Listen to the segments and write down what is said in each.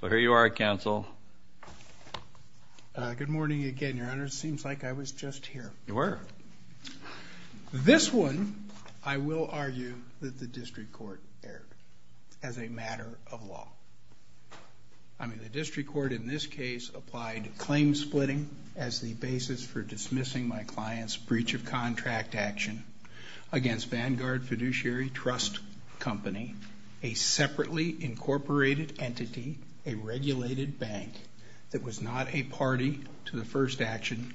So here you are, Counsel. Good morning again, Your Honor. Seems like I was just here. You were. This one I will argue that the District Court erred as a matter of law. I mean, the District Court in this case applied claim splitting as the basis for dismissing my client's breach of contract action against Vanguard Fiduciary Trust Company, a separately incorporated entity, a regulated bank that was not a party to the first action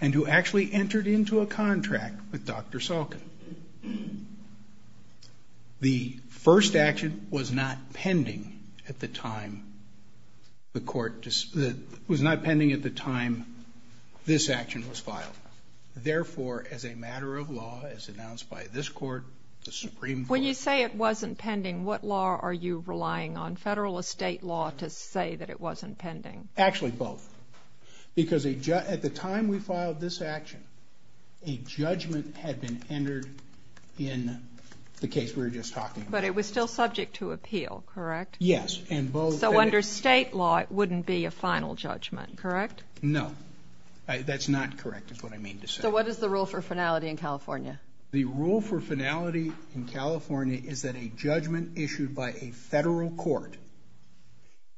and who actually entered into a contract with Dr. Salkin. The first action was not pending at the time the court just was not pending at the time this action was filed. Therefore, as a matter of law, as announced by this Court, the Supreme Court... When you say it wasn't pending, what law are you relying on, federal or state law, to say that it wasn't pending? Actually, both. Because at the time we filed this action, a judgment had been entered in the case we were just talking about. But it was still subject to appeal, correct? Yes, and both... So under state law, it wouldn't be a final judgment, correct? No, that's not the rule for finality in California. The rule for finality in California is that a judgment issued by a federal court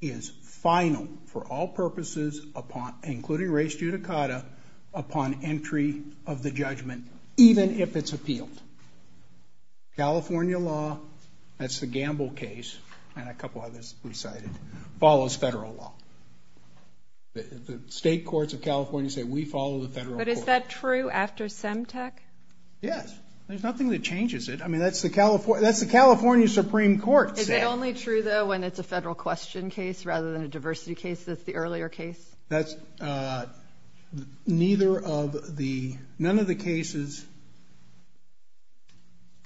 is final for all purposes, including race judicata, upon entry of the judgment, even if it's appealed. California law, that's the Gamble case and a couple others we cited, follows federal law. The state courts of MTEC? Yes, there's nothing that changes it. I mean, that's the California Supreme Court. Is it only true, though, when it's a federal question case rather than a diversity case that's the earlier case? That's neither of the... none of the cases...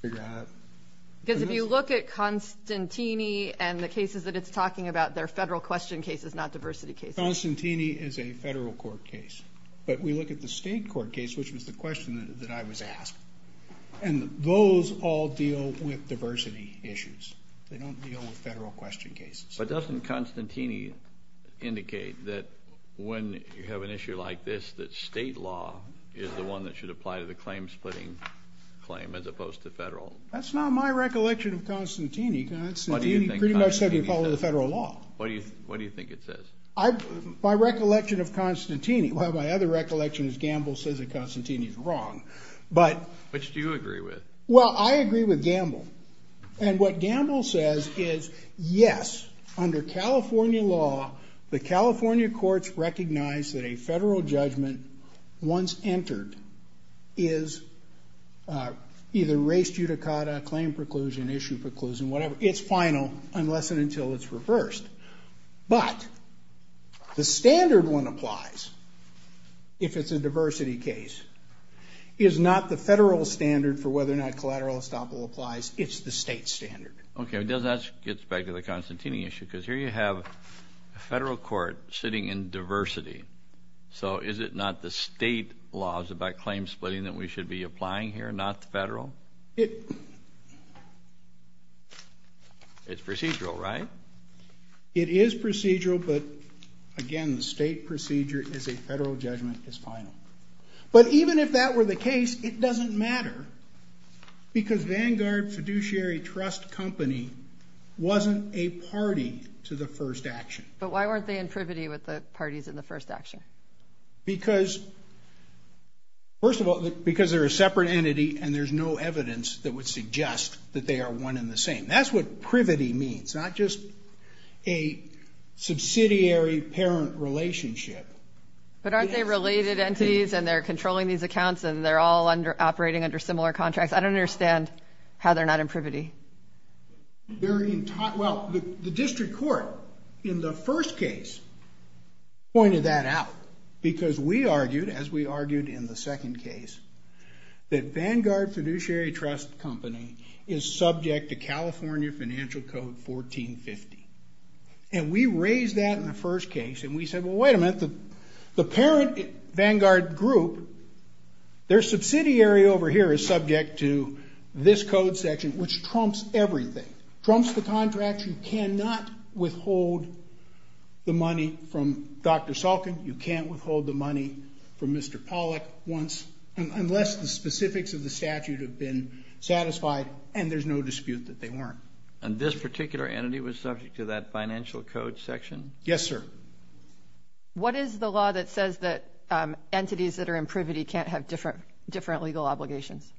Because if you look at Constantini and the cases that it's talking about, they're federal question cases, not diversity cases. Constantini is a federal court case, but we look at the state court case, which was the question that I was asked, and those all deal with diversity issues. They don't deal with federal question cases. But doesn't Constantini indicate that when you have an issue like this, that state law is the one that should apply to the claim-splitting claim as opposed to federal? That's not my recollection of Constantini. Constantini pretty much said you follow the federal law. What do you think it says? My recollection of Constantini... well, my other recollection is Gamble says that Constantini is wrong, but... Which do you agree with? Well, I agree with Gamble, and what Gamble says is, yes, under California law, the California courts recognize that a federal judgment, once entered, is either race judicata, claim preclusion, issue preclusion, whatever. It's final unless and until it's The standard one applies, if it's a diversity case, is not the federal standard for whether or not collateral estoppel applies. It's the state standard. Okay, that gets back to the Constantini issue, because here you have a federal court sitting in diversity. So is it not the state laws about claim-splitting that we should be applying here, not the federal? It's procedural, right? It is procedural, but again, the state procedure is a federal judgment. It's final. But even if that were the case, it doesn't matter, because Vanguard Fiduciary Trust Company wasn't a party to the first action. But why weren't they in privity with the parties in the first action? Because, first of all, because they're a separate entity, and there's no evidence that would It's not just a subsidiary-parent relationship. But aren't they related entities, and they're controlling these accounts, and they're all under operating under similar contracts? I don't understand how they're not in privity. Well, the district court, in the first case, pointed that out, because we argued, as we argued in the second case, that Vanguard Fiduciary Trust Company is subject to California Financial Code 1450. And we raised that in the first case, and we said, well, wait a minute. The parent Vanguard group, their subsidiary over here is subject to this code section, which trumps everything. Trumps the contract. You cannot withhold the money from Dr. Salkin. You can't withhold the money from Mr. Pollack, unless the specifics of the statute have been satisfied, and there's no dispute that they weren't. And this particular entity was subject to that financial code section? Yes, sir. What is the law that says that entities that are in privity can't have different legal obligations?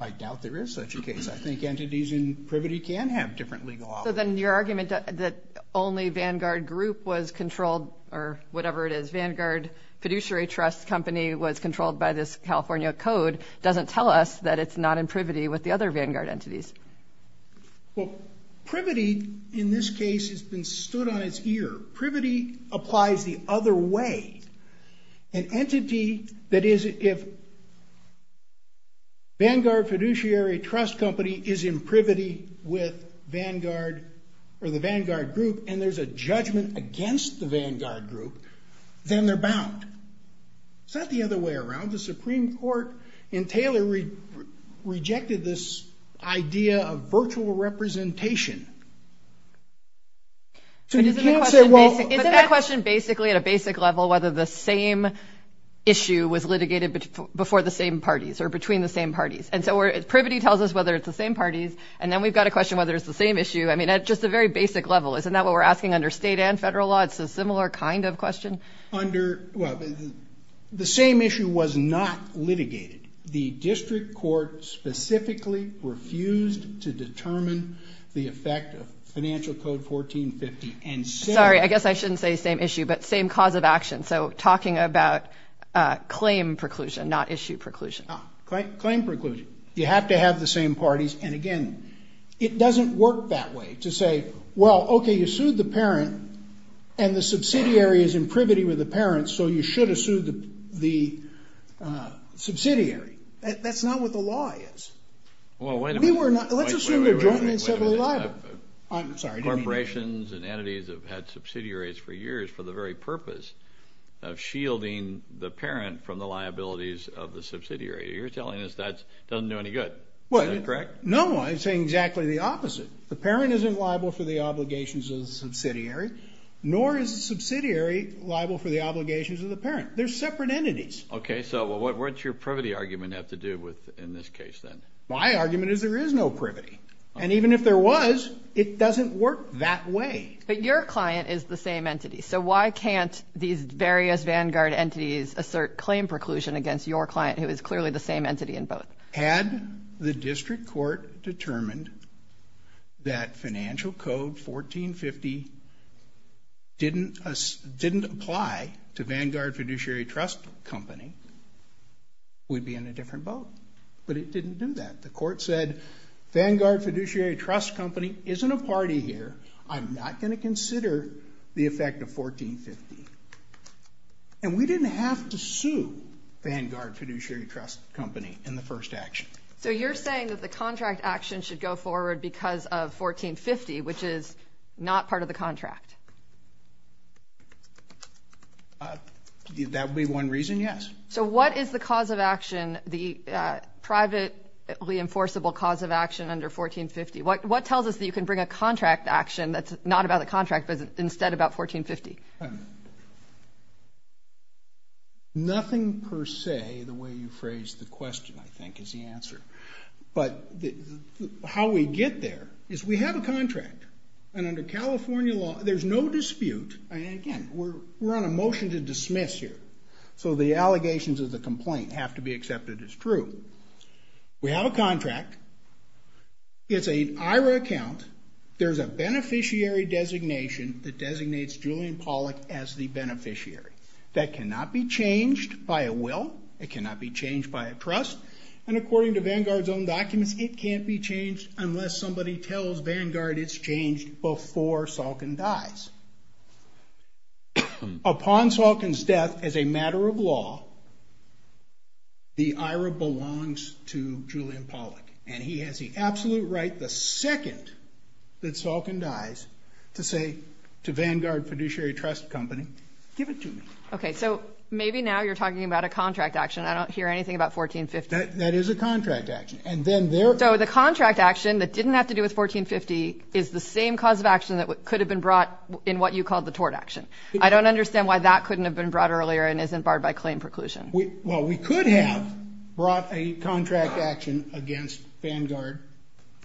I doubt there is such a case. I think entities in privity can have different legal obligations. So then your argument that only Vanguard group was controlled, or whatever it is, Vanguard Fiduciary Trust Company was controlled by this California code, doesn't tell us that it's not in privity with the other Vanguard entities. Well, privity, in this case, has been stood on its ear. Privity applies the other way. An entity that is, if Vanguard Fiduciary Trust Company is in privity with Vanguard, or the Vanguard group, and there's a judgment against the Vanguard group, then they're bound. It's not the other way around. The Supreme Court in Taylor rejected this idea of virtual representation. Isn't the question basically, at a basic level, whether the same issue was litigated before the same parties, or between the same parties? And so, privity tells us whether it's the same issue. I mean, at just a very basic level. Isn't that what we're asking under state and federal law? It's a similar kind of question? The same issue was not litigated. The district court specifically refused to determine the effect of Financial Code 1450. Sorry, I guess I shouldn't say same issue, but same cause of action. So, talking about claim preclusion, not issue preclusion. Claim preclusion. You have to have the same parties, and again, it doesn't work that way to say, well, okay, you sued the parent, and the subsidiary is in privity with the parents, so you should have sued the subsidiary. That's not what the law is. Let's assume they're jointly and separately liable. Corporations and entities have had subsidiaries for years for the very You're telling us that doesn't do any good. Is that correct? No, I'm saying exactly the opposite. The parent isn't liable for the obligations of the subsidiary, nor is the subsidiary liable for the obligations of the parent. They're separate entities. Okay, so what's your privity argument have to do with, in this case, then? My argument is there is no privity, and even if there was, it doesn't work that way. But your client is the same entity, so why can't these various vanguard entities assert claim preclusion against your client, who is clearly the same entity in both? Had the district court determined that financial code 1450 didn't apply to Vanguard Fiduciary Trust Company, we'd be in a different boat. But it didn't do that. The court said, Vanguard Fiduciary Trust Company isn't a party here. I'm not going to consider the effect of 1450. And we didn't have to sue Vanguard Fiduciary Trust Company in the first action. So you're saying that the contract action should go forward because of 1450, which is not part of the contract? That would be one reason, yes. So what is the cause of action, the privately enforceable cause of action under 1450? What tells us that you can bring a contract action that's not about the contract, instead about 1450? Nothing per se, the way you phrased the question, I think, is the answer. But how we get there is we have a contract. And under California law, there's no dispute. And again, we're on a motion to dismiss here. So the allegations of the complaint have to be accepted as true. We have contract. It's an IRA account. There's a beneficiary designation that designates Julian Pollack as the beneficiary. That cannot be changed by a will. It cannot be changed by a trust. And according to Vanguard's own documents, it can't be changed unless somebody tells Vanguard it's changed before Salkin dies. Upon Salkin's death as a matter of law, the IRA belongs to Julian Pollack. And he has the absolute right, the second that Salkin dies, to say to Vanguard Fiduciary Trust Company, give it to me. Okay, so maybe now you're talking about a contract action. I don't hear anything about 1450. That is a contract action. And then there... So the contract action that didn't have to do with 1450 is the same cause of action that could have been brought in what you called the tort action. I don't understand why that couldn't have been brought earlier and isn't barred by claim preclusion. Well, we could have brought a contract action against Vanguard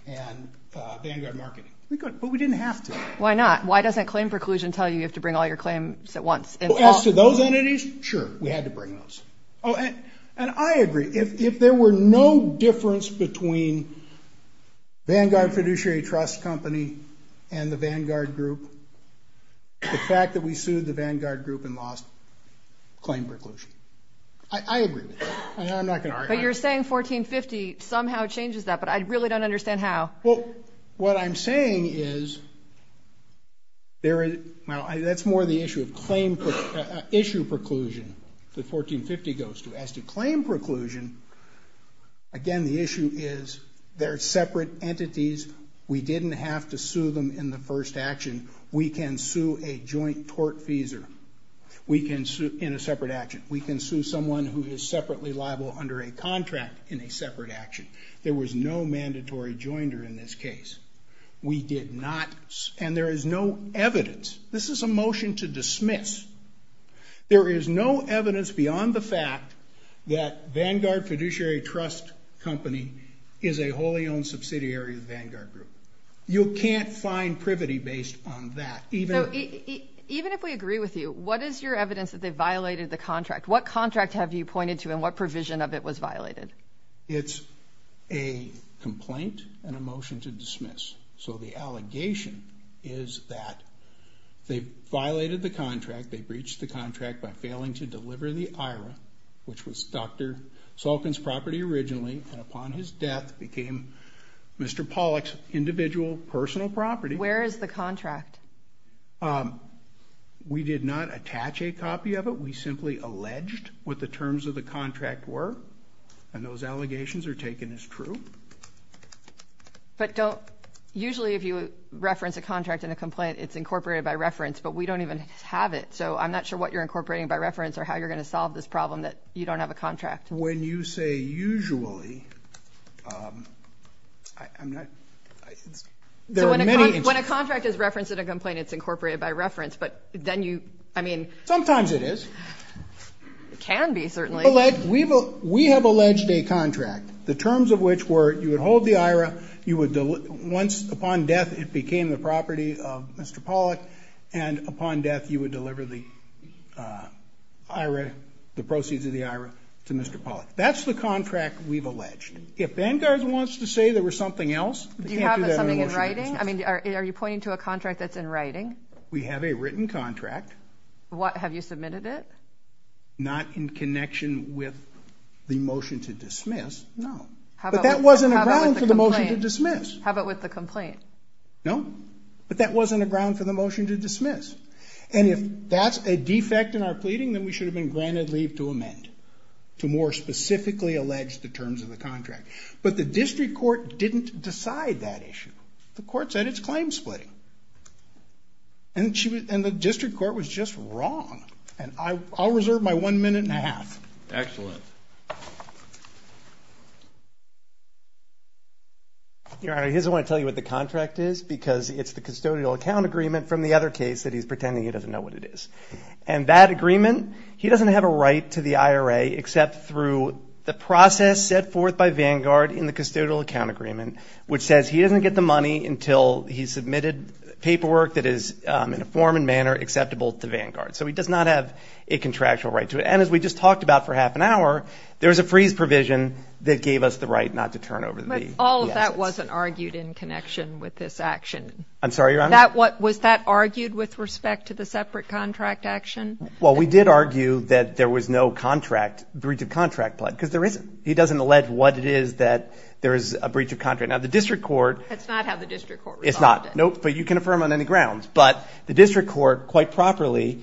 and Vanguard Marketing, but we didn't have to. Why not? Why doesn't claim preclusion tell you you have to bring all your claims at once? As to those entities, sure, we had to bring those. And I agree. If there were no difference between Vanguard Fiduciary Trust Company and the Vanguard Group, the fact that we sued the Vanguard Group and lost claim preclusion. I agree. I'm not going to argue. But you're saying 1450 somehow changes that, but I really don't understand how. Well, what I'm saying is, that's more the issue of claim, issue preclusion that 1450 goes to. As to claim preclusion, again, the issue is they're separate entities. We didn't have to sue them in the first action. We can sue a joint tort feeser in a separate action. We can sue someone who is separately liable under a contract in a separate action. There was no mandatory joinder in this case. We did not, and there is no evidence. This is a motion to dismiss. There is no evidence beyond the fact that Vanguard Fiduciary Trust Company is a wholly subsidiary of the Vanguard Group. You can't find privity based on that. Even if we agree with you, what is your evidence that they violated the contract? What contract have you pointed to and what provision of it was violated? It's a complaint and a motion to dismiss. So the allegation is that they violated the contract. They breached the contract by failing to deliver the IRA, which was Dr. Salkin's property originally, and upon his death became Mr. Pollack's individual personal property. Where is the contract? We did not attach a copy of it. We simply alleged what the terms of the contract were, and those allegations are taken as true. Usually if you reference a contract in a complaint, it's incorporated by reference, but we don't even have it. So I'm not sure what you're incorporating by reference or how you're going to solve this problem that you don't have a contract. When you say usually, there are many... When a contract is referenced in a complaint, it's incorporated by reference, but then you, I mean... Sometimes it is. It can be, certainly. We have alleged a contract, the terms of which were you would hold the IRA, you would once upon death, it became the property of Mr. Pollack, and upon death, you would deliver the IRA, the proceeds of the IRA to Mr. Pollack. That's the contract we've alleged. If Vanguard wants to say there was something else... Do you have something in writing? I mean, are you pointing to a contract that's in writing? We have a written contract. Have you submitted it? Not in connection with the motion to dismiss, no. But that wasn't a ground for the motion to dismiss. No, but that wasn't a ground for the motion to dismiss. And if that's a defect in our pleading, then we should have been granted leave to amend, to more specifically allege the terms of the contract. But the district court didn't decide that issue. The court said it's claim splitting. And the district court was just wrong. And I'll reserve my one minute and a half. Excellent. Your Honor, he doesn't want to tell you what the contract is, because it's the custodial account agreement from the other case that he's pretending he doesn't know what it is. And that agreement, he doesn't have a right to the IRA except through the process set forth by Vanguard in the custodial account agreement, which says he doesn't get the money until he's submitted paperwork that is in a form and manner acceptable to Vanguard. So he does not have a contractual right to it. And as we just talked about for half an hour, there was a freeze provision that gave us the right not to turn over the assets. That wasn't argued in connection with this action. I'm sorry, Your Honor? Was that argued with respect to the separate contract action? Well, we did argue that there was no contract, breach of contract, because there isn't. He doesn't allege what it is that there is a breach of contract. Now, the district court. That's not how the district court responded. It's not. Nope. But you can affirm on any grounds. But the district court quite properly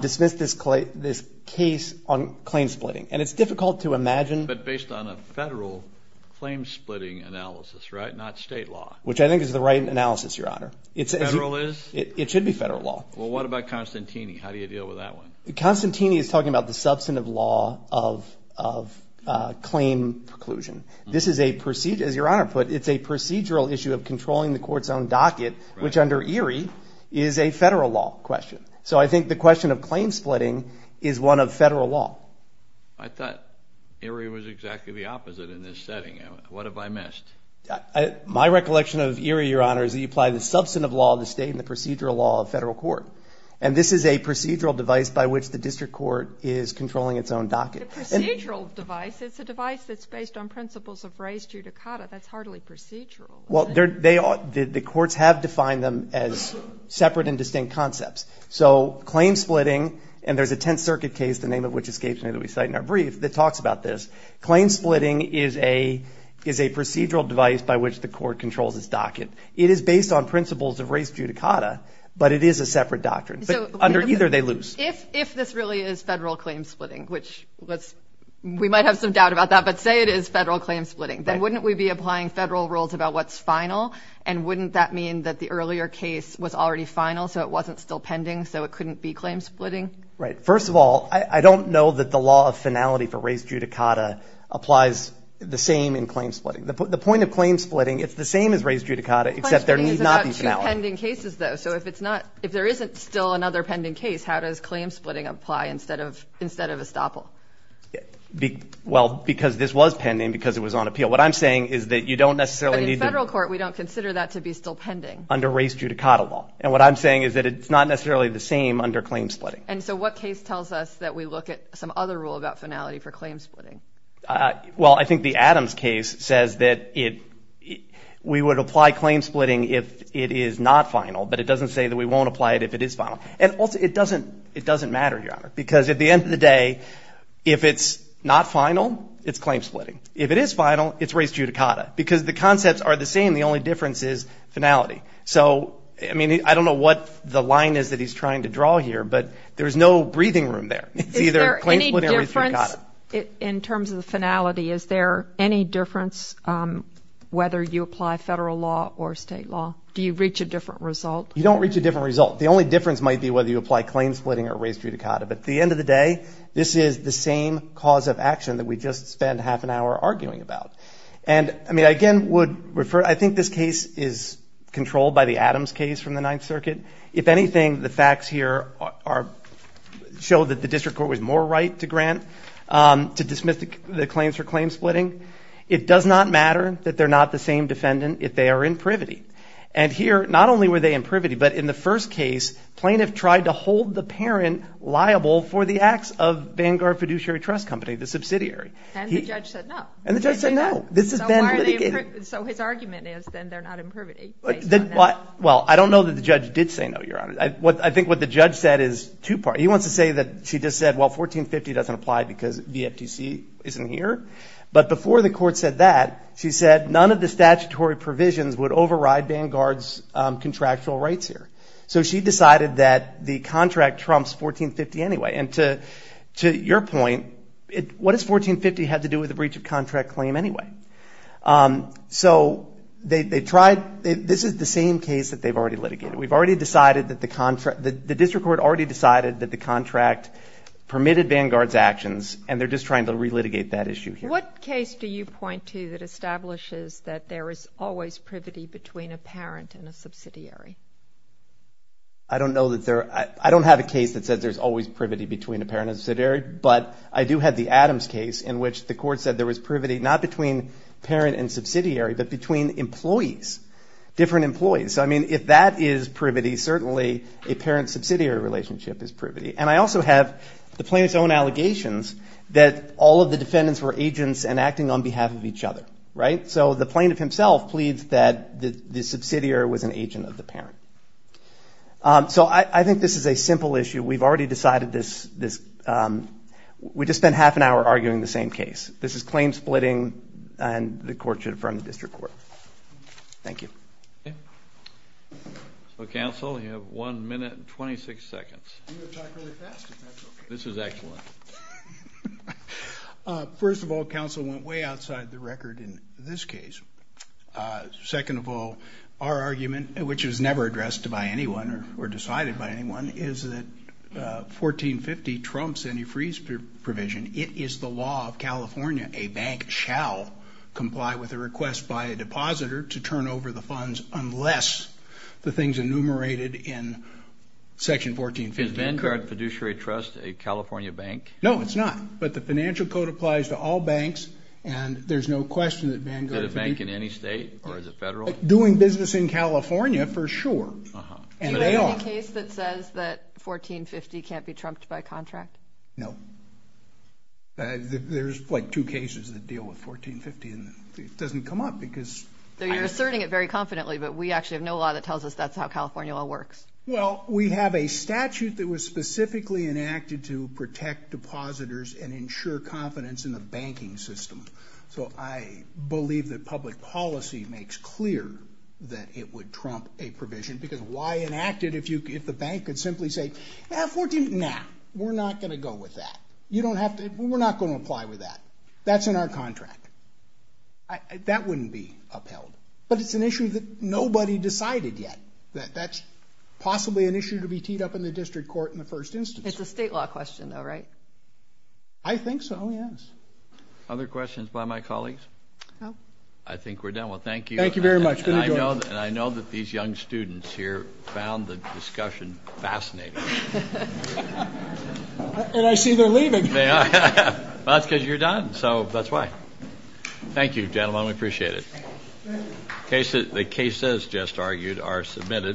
dismissed this case on claim splitting. And it's difficult to imagine. But based on a federal claim splitting analysis, right? Not state law. Which I think is the right analysis, Your Honor. Federal is? It should be federal law. Well, what about Constantini? How do you deal with that one? Constantini is talking about the substantive law of claim preclusion. This is a procedure, as Your Honor put, it's a procedural issue of controlling the court's own docket, which under Erie is a federal law question. So I think the question of claim splitting is one of federal law. I thought Erie was exactly the opposite in this setting. What have I missed? My recollection of Erie, Your Honor, is that you apply the substantive law of the state and the procedural law of federal court. And this is a procedural device by which the district court is controlling its own docket. A procedural device? It's a device that's based on principles of res judicata. That's hardly procedural. Well, the courts have defined them as separate and distinct concepts. So claim splitting, and there's a Tenth Circuit case, the name of which escapes me that we cite in our brief, that talks about this. Claim splitting is a procedural device by which the court controls its docket. It is based on principles of res judicata, but it is a separate doctrine. So under either, they lose. If this really is federal claim splitting, which we might have some doubt about that, but say it is federal claim splitting, then wouldn't we be applying federal rules about what's final? And wouldn't that mean that the earlier case was already final, so it wasn't still pending, so it couldn't be claim splitting? Right. First of all, I don't know that the law of finality for res judicata applies the same in claim splitting. The point of claim splitting, it's the same as res judicata, except there need not be finality. Claim splitting is about two pending cases, though. So if it's not, if there isn't still another pending case, how does claim splitting apply instead of estoppel? Well, because this was pending because it was on appeal. What I'm saying is that you don't necessarily need to... But in federal court, we don't consider that to be still pending. Under res judicata law. And what I'm saying is that it's not necessarily the same under claim splitting. And so what case tells us that we look at some other rule about finality for claim splitting? Well, I think the Adams case says that we would apply claim splitting if it is not final, but it doesn't say that we won't apply it if it is final. And also, it doesn't matter, Your Honor, because at the end of the day, if it's not final, it's claim splitting. If it is final, it's res judicata. Because the concepts are the same, the only difference is finality. So, I mean, I don't know what the line is that he's trying to draw here, but there's no breathing room there. It's either claim splitting or res judicata. In terms of the finality, is there any difference whether you apply federal law or state law? Do you reach a different result? You don't reach a different result. The only difference might be whether you apply claim splitting or res judicata. But at the end of the day, this is the same cause of action that we just spent half an hour arguing about. And, I mean, I again would refer... I think this case is controlled by the Adams case from the Ninth Circuit. If anything, the facts here show that the district court was more right to grant, to dismiss the claims for claim splitting. It does not matter that they're not the same defendant if they are in privity. And here, not only were they in privity, but in the first case, plaintiff tried to hold the parent liable for the acts of Vanguard Fiduciary Trust Company, the subsidiary. And the judge said no. And the judge said no. This has been litigated. So his argument is then they're not in privity based on that. Well, I don't know that the judge did say no, Your Honor. I think what the judge said is two-part. He wants to say that she just said, well, 1450 doesn't apply because VFTC isn't here. But before the court said that, she said none of the statutory provisions would override Vanguard's contractual rights here. So she decided that the contract trumps 1450 anyway. And to your point, what does 1450 have to do with the breach of contract claim anyway? So this is the same case that they've already litigated. The district court already decided that the contract permitted Vanguard's actions. And they're just trying to re-litigate that issue here. What case do you point to that establishes that there is always privity between a parent and a subsidiary? I don't know that there are. I don't have a case that says there's always privity between a parent and a subsidiary. But I do have the Adams case in which the court said there was privity not between parent and subsidiary, but between employees, different employees. So I mean, if that is privity, certainly a parent-subsidiary relationship is privity. And I also have the plaintiff's own allegations that all of the defendants were agents and acting on behalf of each other, right? So the plaintiff himself pleads that the subsidiary was an agent of the parent. So I think this is a simple issue. We've already decided this. We just spent half an hour arguing the same case. This is claim splitting, and the court should affirm the district court. Thank you. So, counsel, you have one minute and 26 seconds. This is excellent. First of all, counsel, went way outside the record in this case. Second of all, our argument, which is never addressed by anyone or decided by anyone, is that 1450 trumps any freeze provision. It is the law of California. A bank shall comply with a request by a depositor to turn over the funds unless the thing's enumerated in section 1450. Is Vanguard Fiduciary Trust a California bank? No, it's not. But the financial code applies to all banks, and there's no question that Vanguard could be. Is it a bank in any state, or is it federal? Doing business in California, for sure. Do you have any case that says that 1450 can't be trumped by contract? No. There's, like, two cases that deal with 1450, and it doesn't come up, because... So you're asserting it very confidently, but we actually have no law that tells us that's how California law works. Well, we have a statute that was specifically enacted to protect depositors and ensure confidence in the banking system. So I believe that public policy makes clear that it would trump a provision, because why enact it if the bank could simply say, nah, we're not going to go with that. We're not going to apply with that. That's in our contract. That wouldn't be upheld. But it's an issue that nobody decided yet, that that's possibly an issue to be teed up in the district court in the first instance. It's a state law question, though, right? I think so, yes. Other questions by my colleagues? I think we're done. Well, thank you. Thank you very much. I know that these young students here found the discussion fascinating. And I see they're leaving. Well, that's because you're done. So that's why. Thank you, gentlemen. We appreciate it. The cases just argued are submitted.